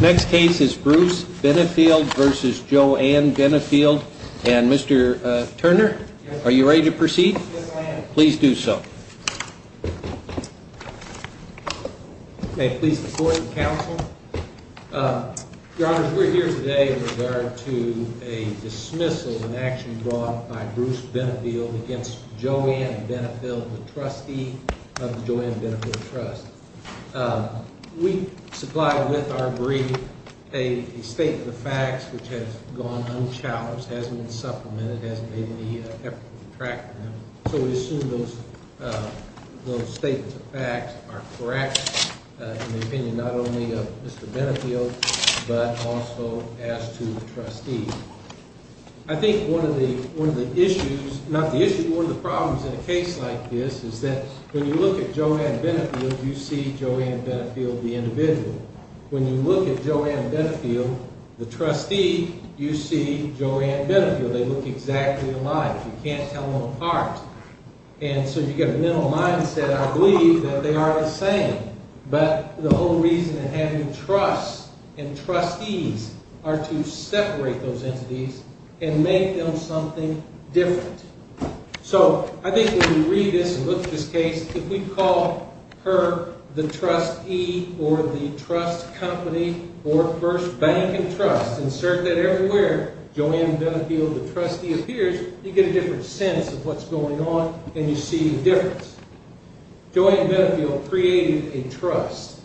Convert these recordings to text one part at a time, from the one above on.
Next case is Bruce Benefield v. Joanne Benefield. And Mr. Turner, are you ready to proceed? Yes, I am. Please do so. May it please the Court and Counsel. Your Honor, we're here today with regard to a dismissal of an action brought by Bruce Benefield against Joanne Benefield, the trustee of the Joanne Benefield Trust. We supplied with our brief a statement of facts which has gone unchallenged, hasn't been supplemented, hasn't made any effort to retract them. So we assume those statements of facts are correct in the opinion not only of Mr. Benefield but also as to the trustee. I think one of the problems in a case like this is that when you look at Joanne Benefield, you see Joanne Benefield the individual. When you look at Joanne Benefield, the trustee, you see Joanne Benefield. They look exactly alike. You can't tell them apart. And so you get a mental mindset, I believe, that they are the same. But the whole reason in having trusts and trustees are to separate those entities and make them something different. So I think when we read this and look at this case, if we call her the trustee or the trust company or first bank and trust, insert that everywhere, Joanne Benefield the trustee appears, you get a different sense of what's going on and you see the difference. Joanne Benefield created a trust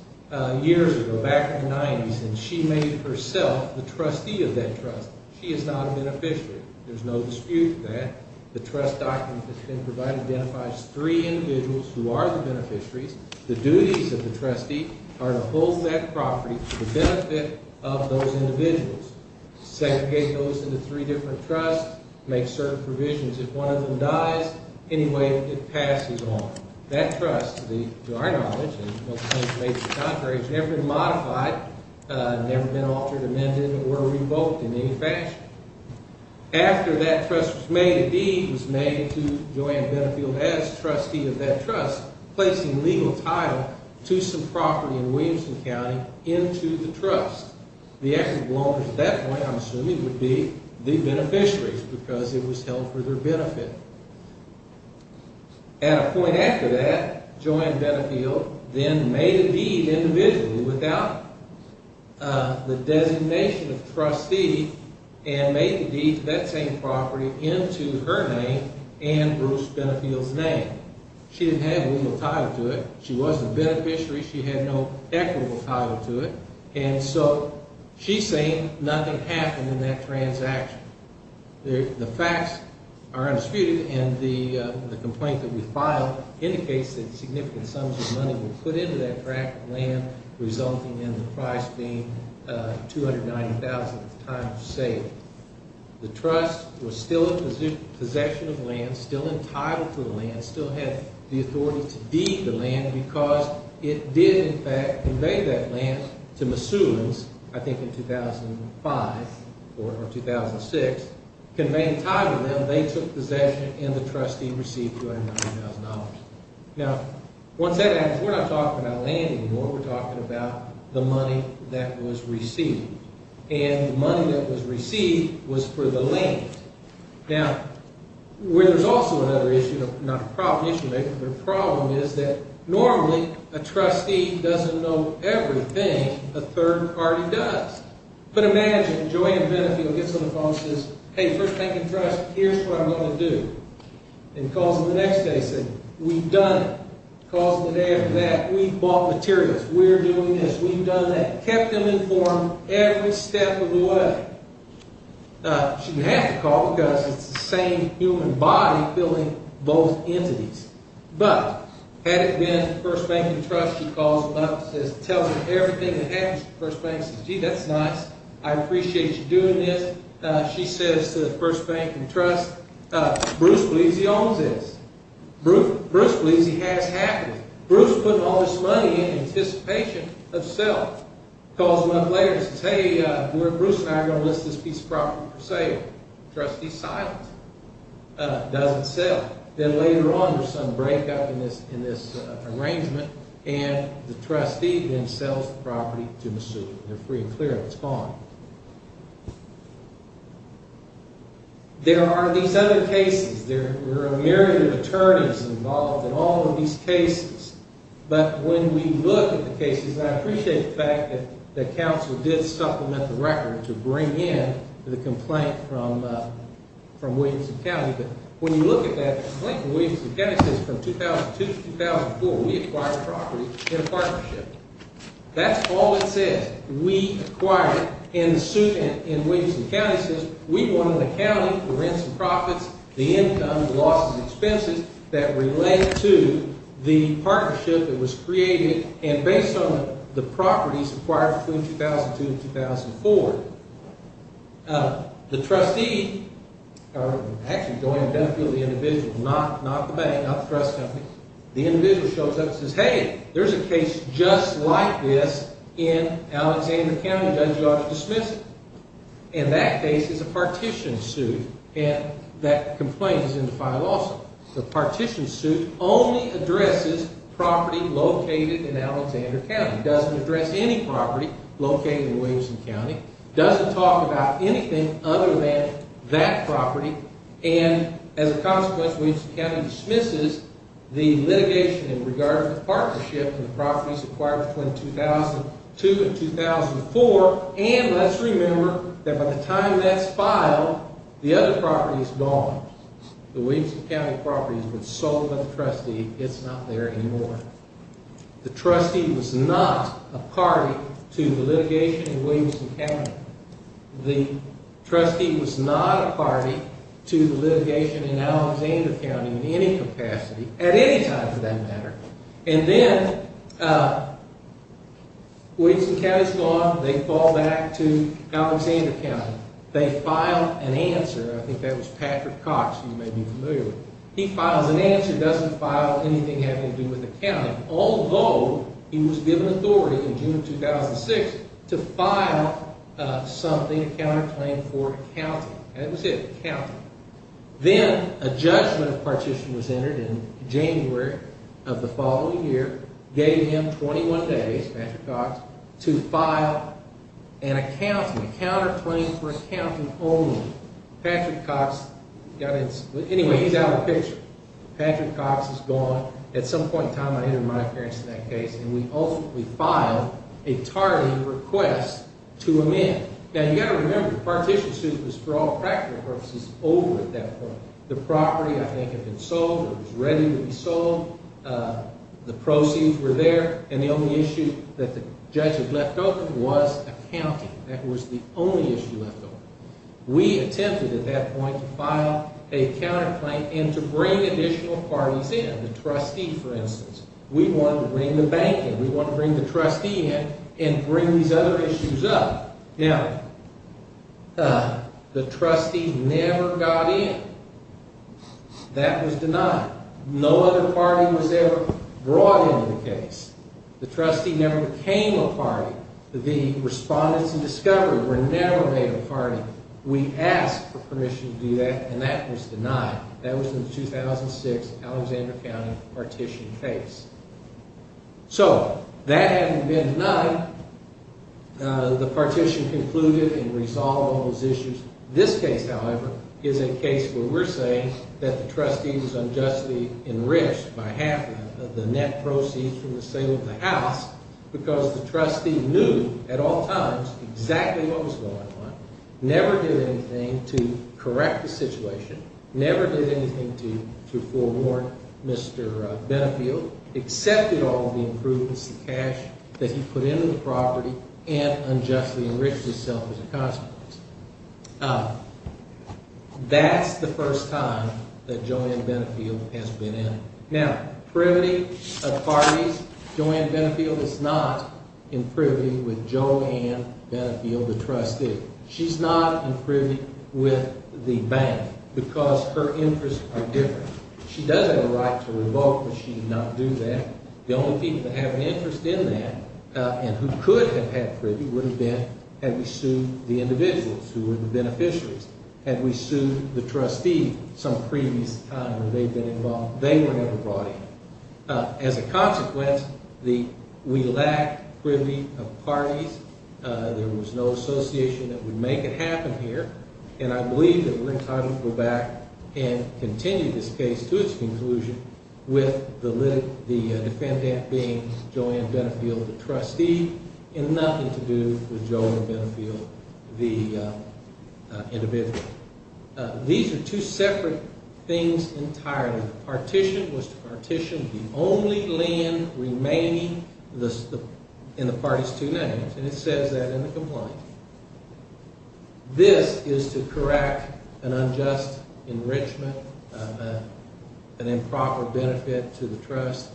years ago, back in the 90s, and she made herself the trustee of that trust. She is not a beneficiary. There's no dispute that. The trust document that's been provided identifies three individuals who are the beneficiaries. The duties of the trustee are to hold that property to the benefit of those individuals, segregate those into three different trusts, make certain provisions. If one of them dies, anyway, it passes on. That trust, to our knowledge, has never been modified, never been altered, amended, or revoked in any fashion. After that trust was made, a deed was made to Joanne Benefield as trustee of that trust, placing legal title to some property in Williamson County into the trust. The equity belongers at that point, I'm assuming, would be the beneficiaries because it was held for their benefit. At a point after that, Joanne Benefield then made a deed individually without the designation of trustee and made the deed to that same property into her name and Bruce Benefield's name. She didn't have legal title to it. She wasn't a beneficiary. She had no equitable title to it. And so she's saying nothing happened in that transaction. The facts are undisputed, and the complaint that we filed indicates that significant sums of money were put into that tract of land, resulting in the price being $290,000 at the time of sale. The trust was still in possession of land, still entitled to the land, still had the authority to deed the land because it did, in fact, convey that land to Missoula's, I think in 2005 or 2006. Conveying title to them, they took possession, and the trustee received $290,000. Now, once that happens, we're not talking about land anymore. We're talking about the money that was received. And the money that was received was for the land. Now, where there's also another issue, not a problem issue, but a problem, is that normally a trustee doesn't know everything a third party does. But imagine Joanne Benefield gets on the phone and says, hey, first bank and trust, here's what I'm going to do. And calls them the next day and says, we've done it. Calls them the day after that, we've bought materials. We're doing this. We've done that. Kept them informed every step of the way. She didn't have to call because it's the same human body filling both entities. But had it been first bank and trust, she calls them up and says, tells them everything that happens to the first bank. Says, gee, that's nice. I appreciate you doing this. She says to the first bank and trust, Bruce believes he owns this. Bruce believes he has half of it. Bruce put all this money in anticipation of sale. Calls them up later and says, hey, Bruce and I are going to list this piece of property for sale. Trustee's silent. Doesn't sell. Then later on, there's some breakup in this arrangement, and the trustee then sells the property to Missoula. They're free and clear. It's gone. There are these other cases. There are a myriad of attorneys involved in all of these cases. But when we look at the cases, I appreciate the fact that the council did supplement the record to bring in the complaint from Williamson County. But when you look at that complaint, Williamson County says from 2002 to 2004, we acquired the property in a partnership. That's all it says. We acquired it. And the suit in Williamson County says we want an accounting for rents and profits, the income, the losses, and expenses that relate to the partnership that was created. And based on the properties acquired between 2002 and 2004, the trustee actually going to benefit the individual, not the bank, not the trust company. The individual shows up and says, hey, there's a case just like this in Alexander County. Judge, you ought to dismiss it. And that case is a partition suit, and that complaint is in the file also. The partition suit only addresses property located in Alexander County. It doesn't address any property located in Williamson County. It doesn't talk about anything other than that property. And as a consequence, Williamson County dismisses the litigation in regard to the partnership and the properties acquired between 2002 and 2004. And let's remember that by the time that's filed, the other property is gone. The Williamson County property has been sold by the trustee. It's not there anymore. The trustee was not a party to the litigation in Williamson County. The trustee was not a party to the litigation in Alexander County in any capacity, at any time for that matter. And then Williamson County is gone. They fall back to Alexander County. They file an answer. I think that was Patrick Cox, who you may be familiar with. He files an answer. It doesn't file anything having to do with the county. Although he was given authority in June of 2006 to file something, a counterclaim for accounting. And that was it, accounting. Then a judgment partition was entered in January of the following year. Gave him 21 days, Patrick Cox, to file an accounting, a counterclaim for accounting only. Patrick Cox, anyway, he's out of the picture. Patrick Cox is gone. At some point in time, I entered my appearance in that case. And we ultimately filed a tardy request to amend. Now, you've got to remember, the partition suit was, for all practical purposes, over at that point. The property, I think, had been sold. It was ready to be sold. The proceeds were there. And the only issue that the judge had left open was accounting. That was the only issue left open. We attempted at that point to file a counterclaim and to bring additional parties in. The trustee, for instance. We wanted to bring the bank in. We wanted to bring the trustee in and bring these other issues up. Now, the trustee never got in. That was denied. No other party was ever brought into the case. The trustee never became a party. The respondents in discovery were never made a party. We asked for permission to do that, and that was denied. That was in the 2006 Alexander County partition case. So, that having been denied, the partition concluded and resolved all those issues. This case, however, is a case where we're saying that the trustee was unjustly enriched by half of the net proceeds from the sale of the house because the trustee knew at all times exactly what was going on, never did anything to correct the situation, never did anything to forewarn Mr. Benefield, accepted all the improvements, the cash that he put into the property, and unjustly enriched himself as a consequence. That's the first time that Joanne Benefield has been in. Now, privity of parties, Joanne Benefield is not in privity with Joanne Benefield, the trustee. She's not in privity with the bank because her interests are different. She does have a right to revoke, but she did not do that. The only people that have an interest in that and who could have had privity would have been had we sued the individuals who were the beneficiaries. Had we sued the trustee some previous time that they've been involved, they were never brought in. As a consequence, we lack privity of parties. There was no association that would make it happen here, and I believe that we're entitled to go back and continue this case to its conclusion with the defendant being Joanne Benefield, the trustee, and nothing to do with Joanne Benefield, the individual. These are two separate things entirely. Partition was to partition the only land remaining in the party's two names, and it says that in the complaint. This is to correct an unjust enrichment, an improper benefit to the trust,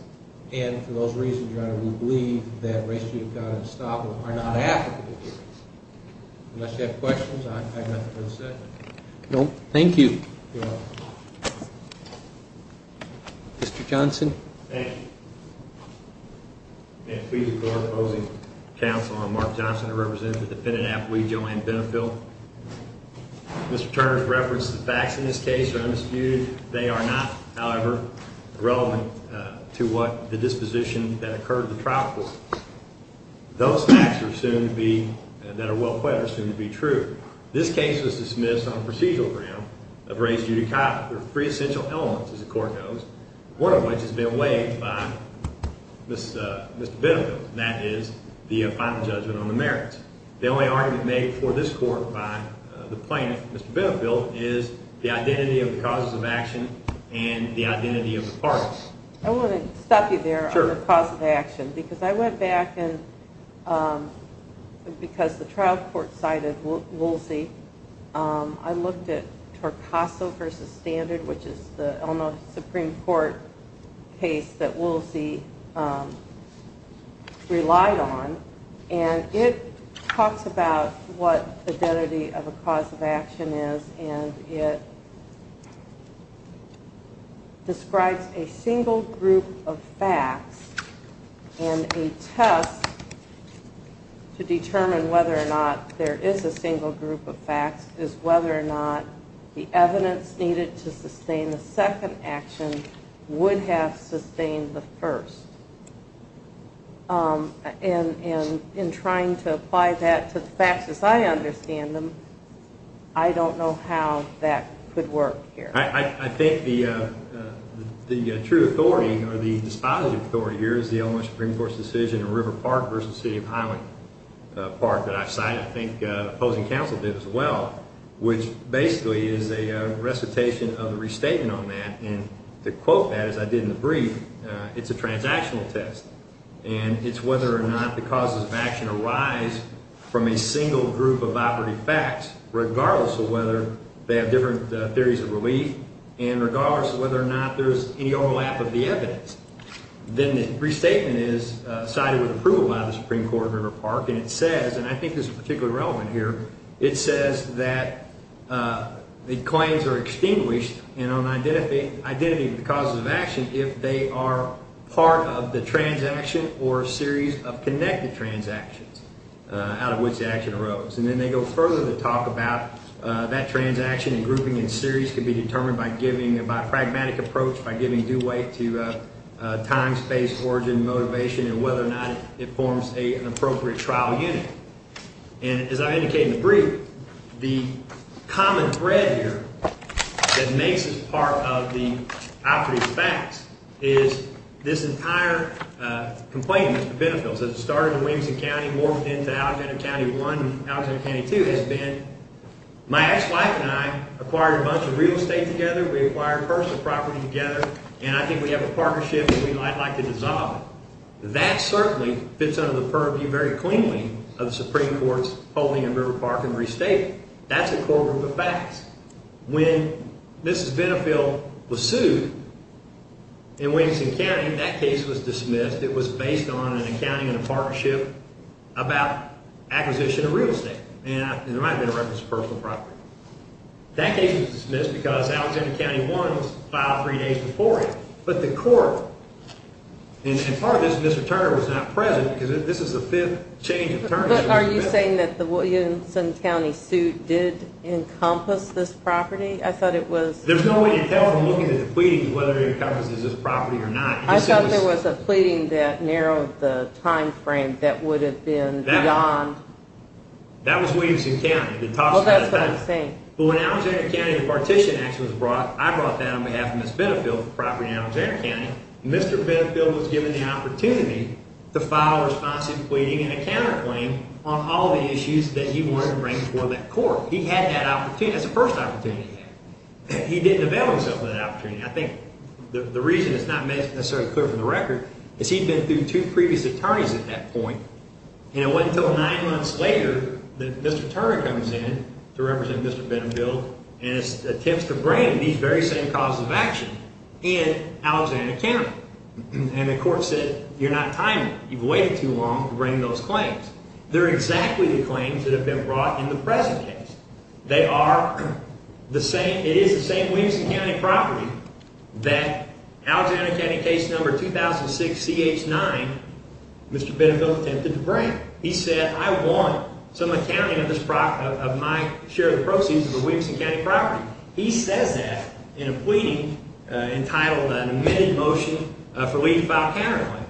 and for those reasons, your honor, we believe that race, gene account, and estoppel are not applicable here. Unless you have questions, I have nothing more to say. No, thank you. Mr. Johnson. Thank you. And please record opposing counsel. I'm Mark Johnson. I represent the defendant at we Joanne Benefield. Mr. Turner's reference to the facts in this case are undisputed. They are not, however, relevant to what the disposition that occurred in the trial court. Those facts are soon to be, that are well-played, are soon to be true. This case was dismissed on procedural ground of race due to free essential elements, as the court knows, one of which has been waived by Mr. Benefield, and that is the final judgment on the merits. The only argument made for this court by the plaintiff, Mr. Benefield, is the identity of the causes of action and the identity of the parties. I want to stop you there on the cause of action because I went back and because the trial court cited Woolsey, I looked at Torcaso v. Standard, which is the Supreme Court case that Woolsey relied on, and it talks about what identity of a cause of action is, and it describes a single group of facts and a test to determine whether or not there is a single group of facts is whether or not the evidence needed to sustain the second action would have sustained the first. And in trying to apply that to the facts as I understand them, I don't know how that could work here. I think the true authority, or the dispositive authority here, is the Illinois Supreme Court's decision in River Park v. City of Highland Park that I've cited. I think opposing counsel did as well, which basically is a recitation of a restatement on that, and to quote that as I did in the brief, it's a transactional test, and it's whether or not the causes of action arise from a single group of operative facts, regardless of whether they have different theories of relief, and regardless of whether or not there's any overlap of the evidence. Then the restatement is cited with approval by the Supreme Court of River Park, and it says, and I think this is particularly relevant here, it says that the claims are extinguished in an identity of the causes of action if they are part of the transaction or a series of connected transactions out of which the action arose. And then they go further to talk about that transaction and grouping in series could be determined by a pragmatic approach, by giving due weight to time, space, origin, motivation, and whether or not it forms an appropriate trial unit. And as I indicated in the brief, the common thread here that makes this part of the operative facts is this entire complaint against the Benefills that started in Williamson County, morphed into Alexander County 1 and Alexander County 2, has been my ex-wife and I acquired a bunch of real estate together, we acquired personal property together, and I think we have a partnership that we might like to dissolve. That certainly fits under the purview very cleanly of the Supreme Court's holding in River Park and restatement. That's a core group of facts. When Mrs. Benefill was sued in Williamson County, that case was dismissed. It was based on an accounting and a partnership about acquisition of real estate, and there might have been a reference to personal property. That case was dismissed because Alexander County 1 was filed three days before it, but the court, and part of this, Mr. Turner was not present because this is the fifth change of attorneys. But are you saying that the Williamson County suit did encompass this property? I thought it was... There's no way to tell from looking at the pleadings whether it encompasses this property or not. I thought there was a pleading that narrowed the time frame that would have been beyond... That was Williamson County. Well, that's what I'm saying. But when Alexander County Partition Act was brought, I brought that on behalf of Mrs. Benefill's property in Alexander County, Mr. Benefill was given the opportunity to file a responsive pleading and a counterclaim on all the issues that he wanted to bring before that court. He had that opportunity. That's the first opportunity he had. He didn't avail himself of that opportunity. I think the reason it's not necessarily clear from the record is he'd been through two previous attorneys at that point, and it wasn't until nine months later that Mr. Turner comes in to represent Mr. Benefill and attempts to bring these very same causes of action in Alexander County. And the court said, you're not timely. You've waited too long to bring those claims. They're exactly the claims that have been brought in the present case. They are the same. It is the same Williamson County property that Alexander County case number 2006-CH9 Mr. Benefill attempted to bring. He said, I want some accounting of my share of the proceeds of the Williamson County property. He says that in a pleading entitled an amended motion for leave to file a counterclaim.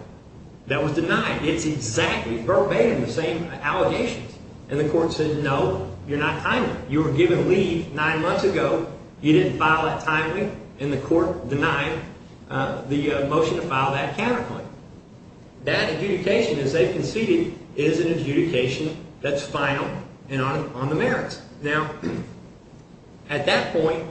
That was denied. It's exactly verbatim the same allegations. And the court said, no, you're not timely. You were given leave nine months ago. You didn't file it timely, and the court denied the motion to file that counterclaim. That adjudication, as they've conceded, is an adjudication that's final and on the merits. Now, at that point,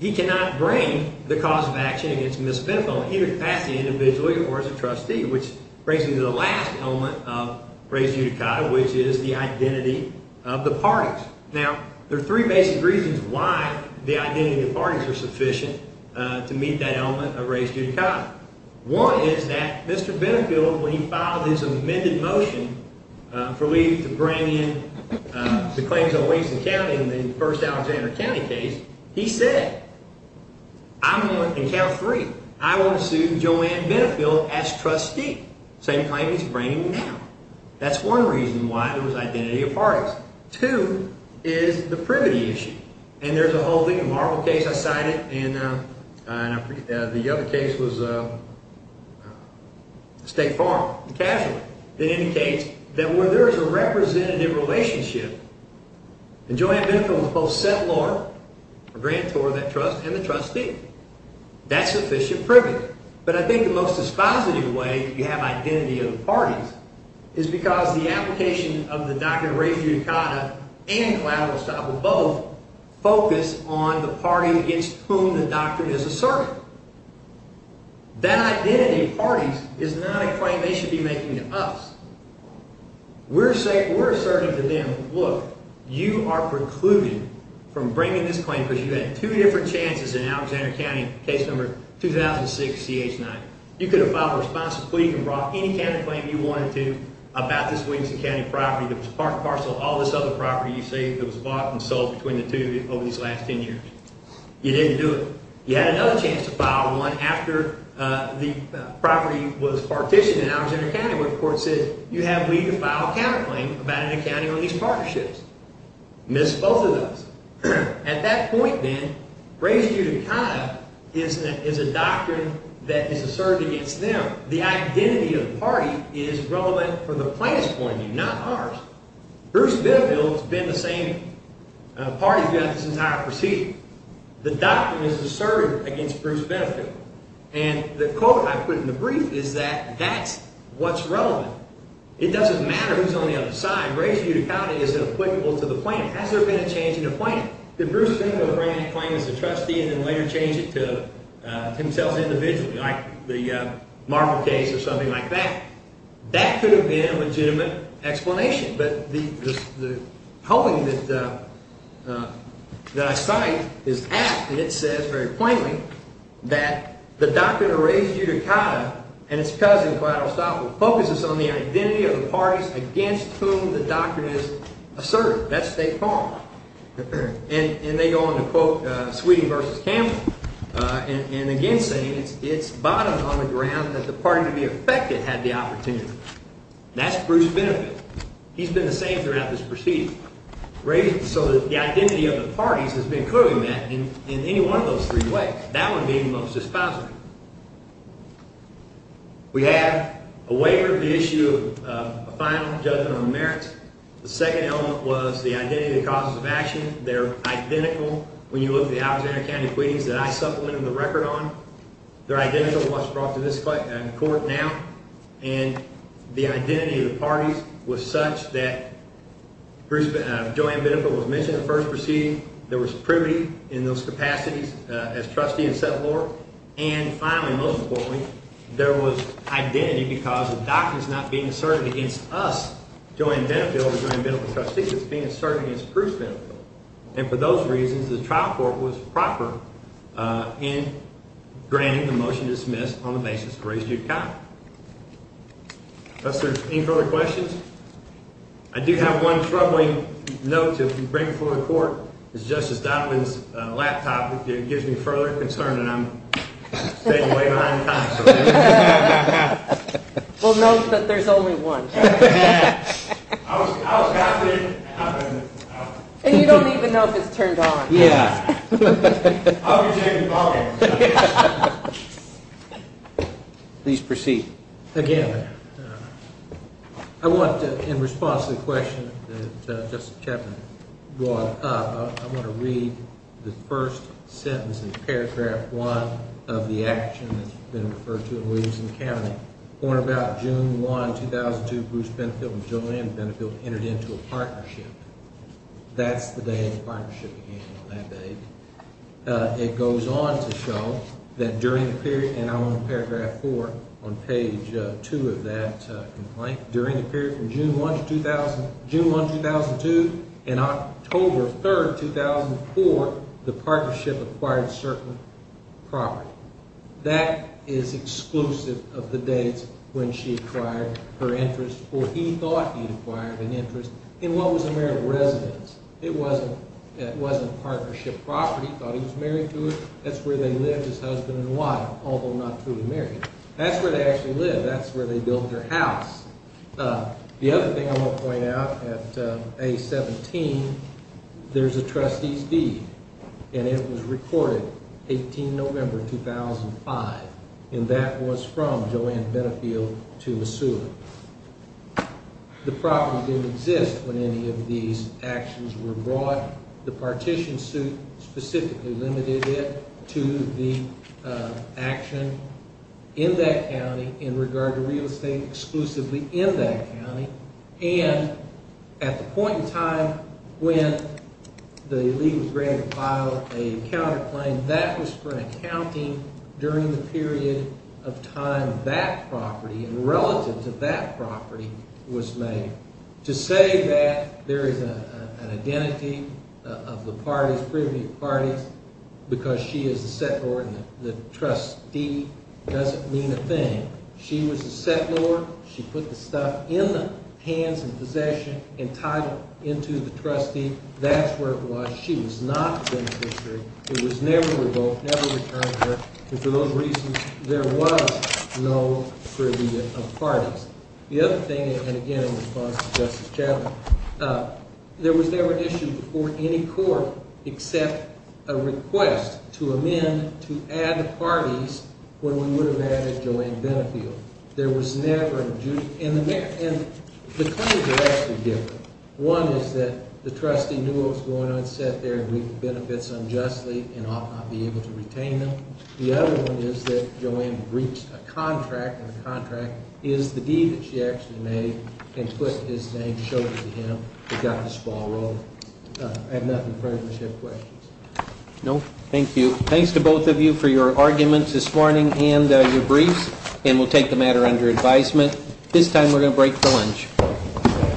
he cannot bring the cause of action against Ms. Benefill, either to pass it individually or as a trustee, which brings me to the last element of res judicata, which is the identity of the parties. Now, there are three basic reasons why the identity of the parties are sufficient to meet that element of res judicata. One is that Mr. Benefill, when he filed his amended motion for leave to bring in the claims on Williamson County in the first Alexander County case, he said, I'm going to count three. I want to sue Joanne Benefill as trustee. Same claim he's bringing now. That's one reason why there was identity of parties. Two is the privity issue. And there's a whole big and horrible case I cited, and the other case was State Farm, the casualty, that indicates that where there is a representative relationship, and Joanne Benefill was both settlor, a grantor of that trust, and the trustee. That's sufficient privity. But I think the most dispositive way you have identity of the parties is because the application of the doctrine of res judicata and collateral estoppel both focus on the party against whom the doctrine is asserted. That identity of parties is not a claim they should be making to us. We're saying, we're asserting to them, look, you are precluded from bringing this claim because you had two different chances in Alexander County, case number 2006-CH9. You could have filed responsibly. You could have brought any kind of claim you wanted to about this Williamson County property that was parceled, all this other property you say that was bought and sold between the two over these last ten years. You didn't do it. You had another chance to file one after the property was partitioned in Alexander County where the court said you have leave to file a counterclaim about an accounting on these partnerships. Miss both of those. At that point, then, res judicata is a doctrine that is asserted against them. The identity of the party is relevant for the plaintiff's point of view, not ours. Bruce Benefill has been the same party throughout this entire procedure. The doctrine is asserted against Bruce Benefill. And the quote I put in the brief is that that's what's relevant. It doesn't matter who's on the other side. Res judicata isn't applicable to the plaintiff. Has there been a change in the plaintiff? Did Bruce Benefill bring that claim as a trustee and then later change it to himself individually, like the Marvel case or something like that? That could have been a legitimate explanation. But the holding that I cite is apt. It says very plainly that the doctrine of res judicata and its cousins, but I'll stop with, focuses on the identity of the parties against whom the doctrine is asserted. That's State Farm. And they go on to quote Sweeney v. Campbell. And again saying it's bottomed on the ground that the party to be affected had the opportunity. That's Bruce Benefit. He's been the same throughout this procedure. So the identity of the parties has been clearly met in any one of those three ways, that one being the most dispositive. We have a waiver of the issue of a final judgment on merits. The second element was the identity of the causes of action. They're identical when you look at the Alexandria County acquittings that I supplemented the record on. They're identical to what's brought to this court now. And the identity of the parties was such that Joanne Benefit was mentioned in the first proceeding. There was privity in those capacities as trustee and settlor. And finally, most importantly, there was identity because the doctrine is not being asserted against us, Joanne Benefit or Joanne Benefit's trustees, it's being asserted against Bruce Benefit. And for those reasons, the trial court was proper in granting the motion to dismiss on the basis of res judicata. Professor, any further questions? I do have one troubling note to bring before the court. It's Justice Donovan's laptop. It gives me further concern that I'm staying way behind time. Well, note that there's only one. And you don't even know if it's turned on. Yeah. I'll be taking the bargain. Please proceed. Again, I want to, in response to the question that Justice Chapman brought up, I want to read the first sentence in paragraph one of the action that's been referred to in Williamson County. Born about June 1, 2002, Bruce Benefit and Joanne Benefit entered into a partnership. That's the day the partnership began on that date. It goes on to show that during the period, and I'm on paragraph four on page two of that complaint, during the period from June 1, 2002 and October 3, 2004, the partnership acquired certain property. That is exclusive of the dates when she acquired her interest or he thought he'd acquired an interest in what was a marital residence. It wasn't partnership property. He thought he was married to her. That's where they lived as husband and wife, although not truly married. That's where they actually lived. That's where they built their house. The other thing I want to point out, at A-17, there's a trustee's deed, and it was recorded 18 November, 2005, and that was from Joanne Benefield to a suitor. The property didn't exist when any of these actions were brought. The partition suit specifically limited it to the action in that county in regard to real estate exclusively in that county, and at the point in time when the league was ready to file a counterclaim, that was for an accounting during the period of time that property and relative to that property was made. To say that there is an identity of the parties, privy parties, because she is a settlor and the trustee doesn't mean a thing. She was a settlor. She put the stuff in the hands and possession and tied it into the trustee. That's where it was. She was not a beneficiary. It was never revoked, never returned to her, and for those reasons, there was no privy of parties. The other thing, and again in response to Justice Chatelain, there was never an issue before any court except a request to amend, to add parties when we would have added Joanne Benefield. There was never, and the claims are actually different. One is that the trustee knew what was going on, sat there and reaped the benefits unjustly and ought not be able to retain them. The other one is that Joanne breached a contract, and the contract is the deed that she actually made and put his name, and showed it to him and got the squalor. I have nothing further. Do you have questions? No. Thank you. Thanks to both of you for your arguments this morning and your briefs, and we'll take the matter under advisement. This time we're going to break for lunch.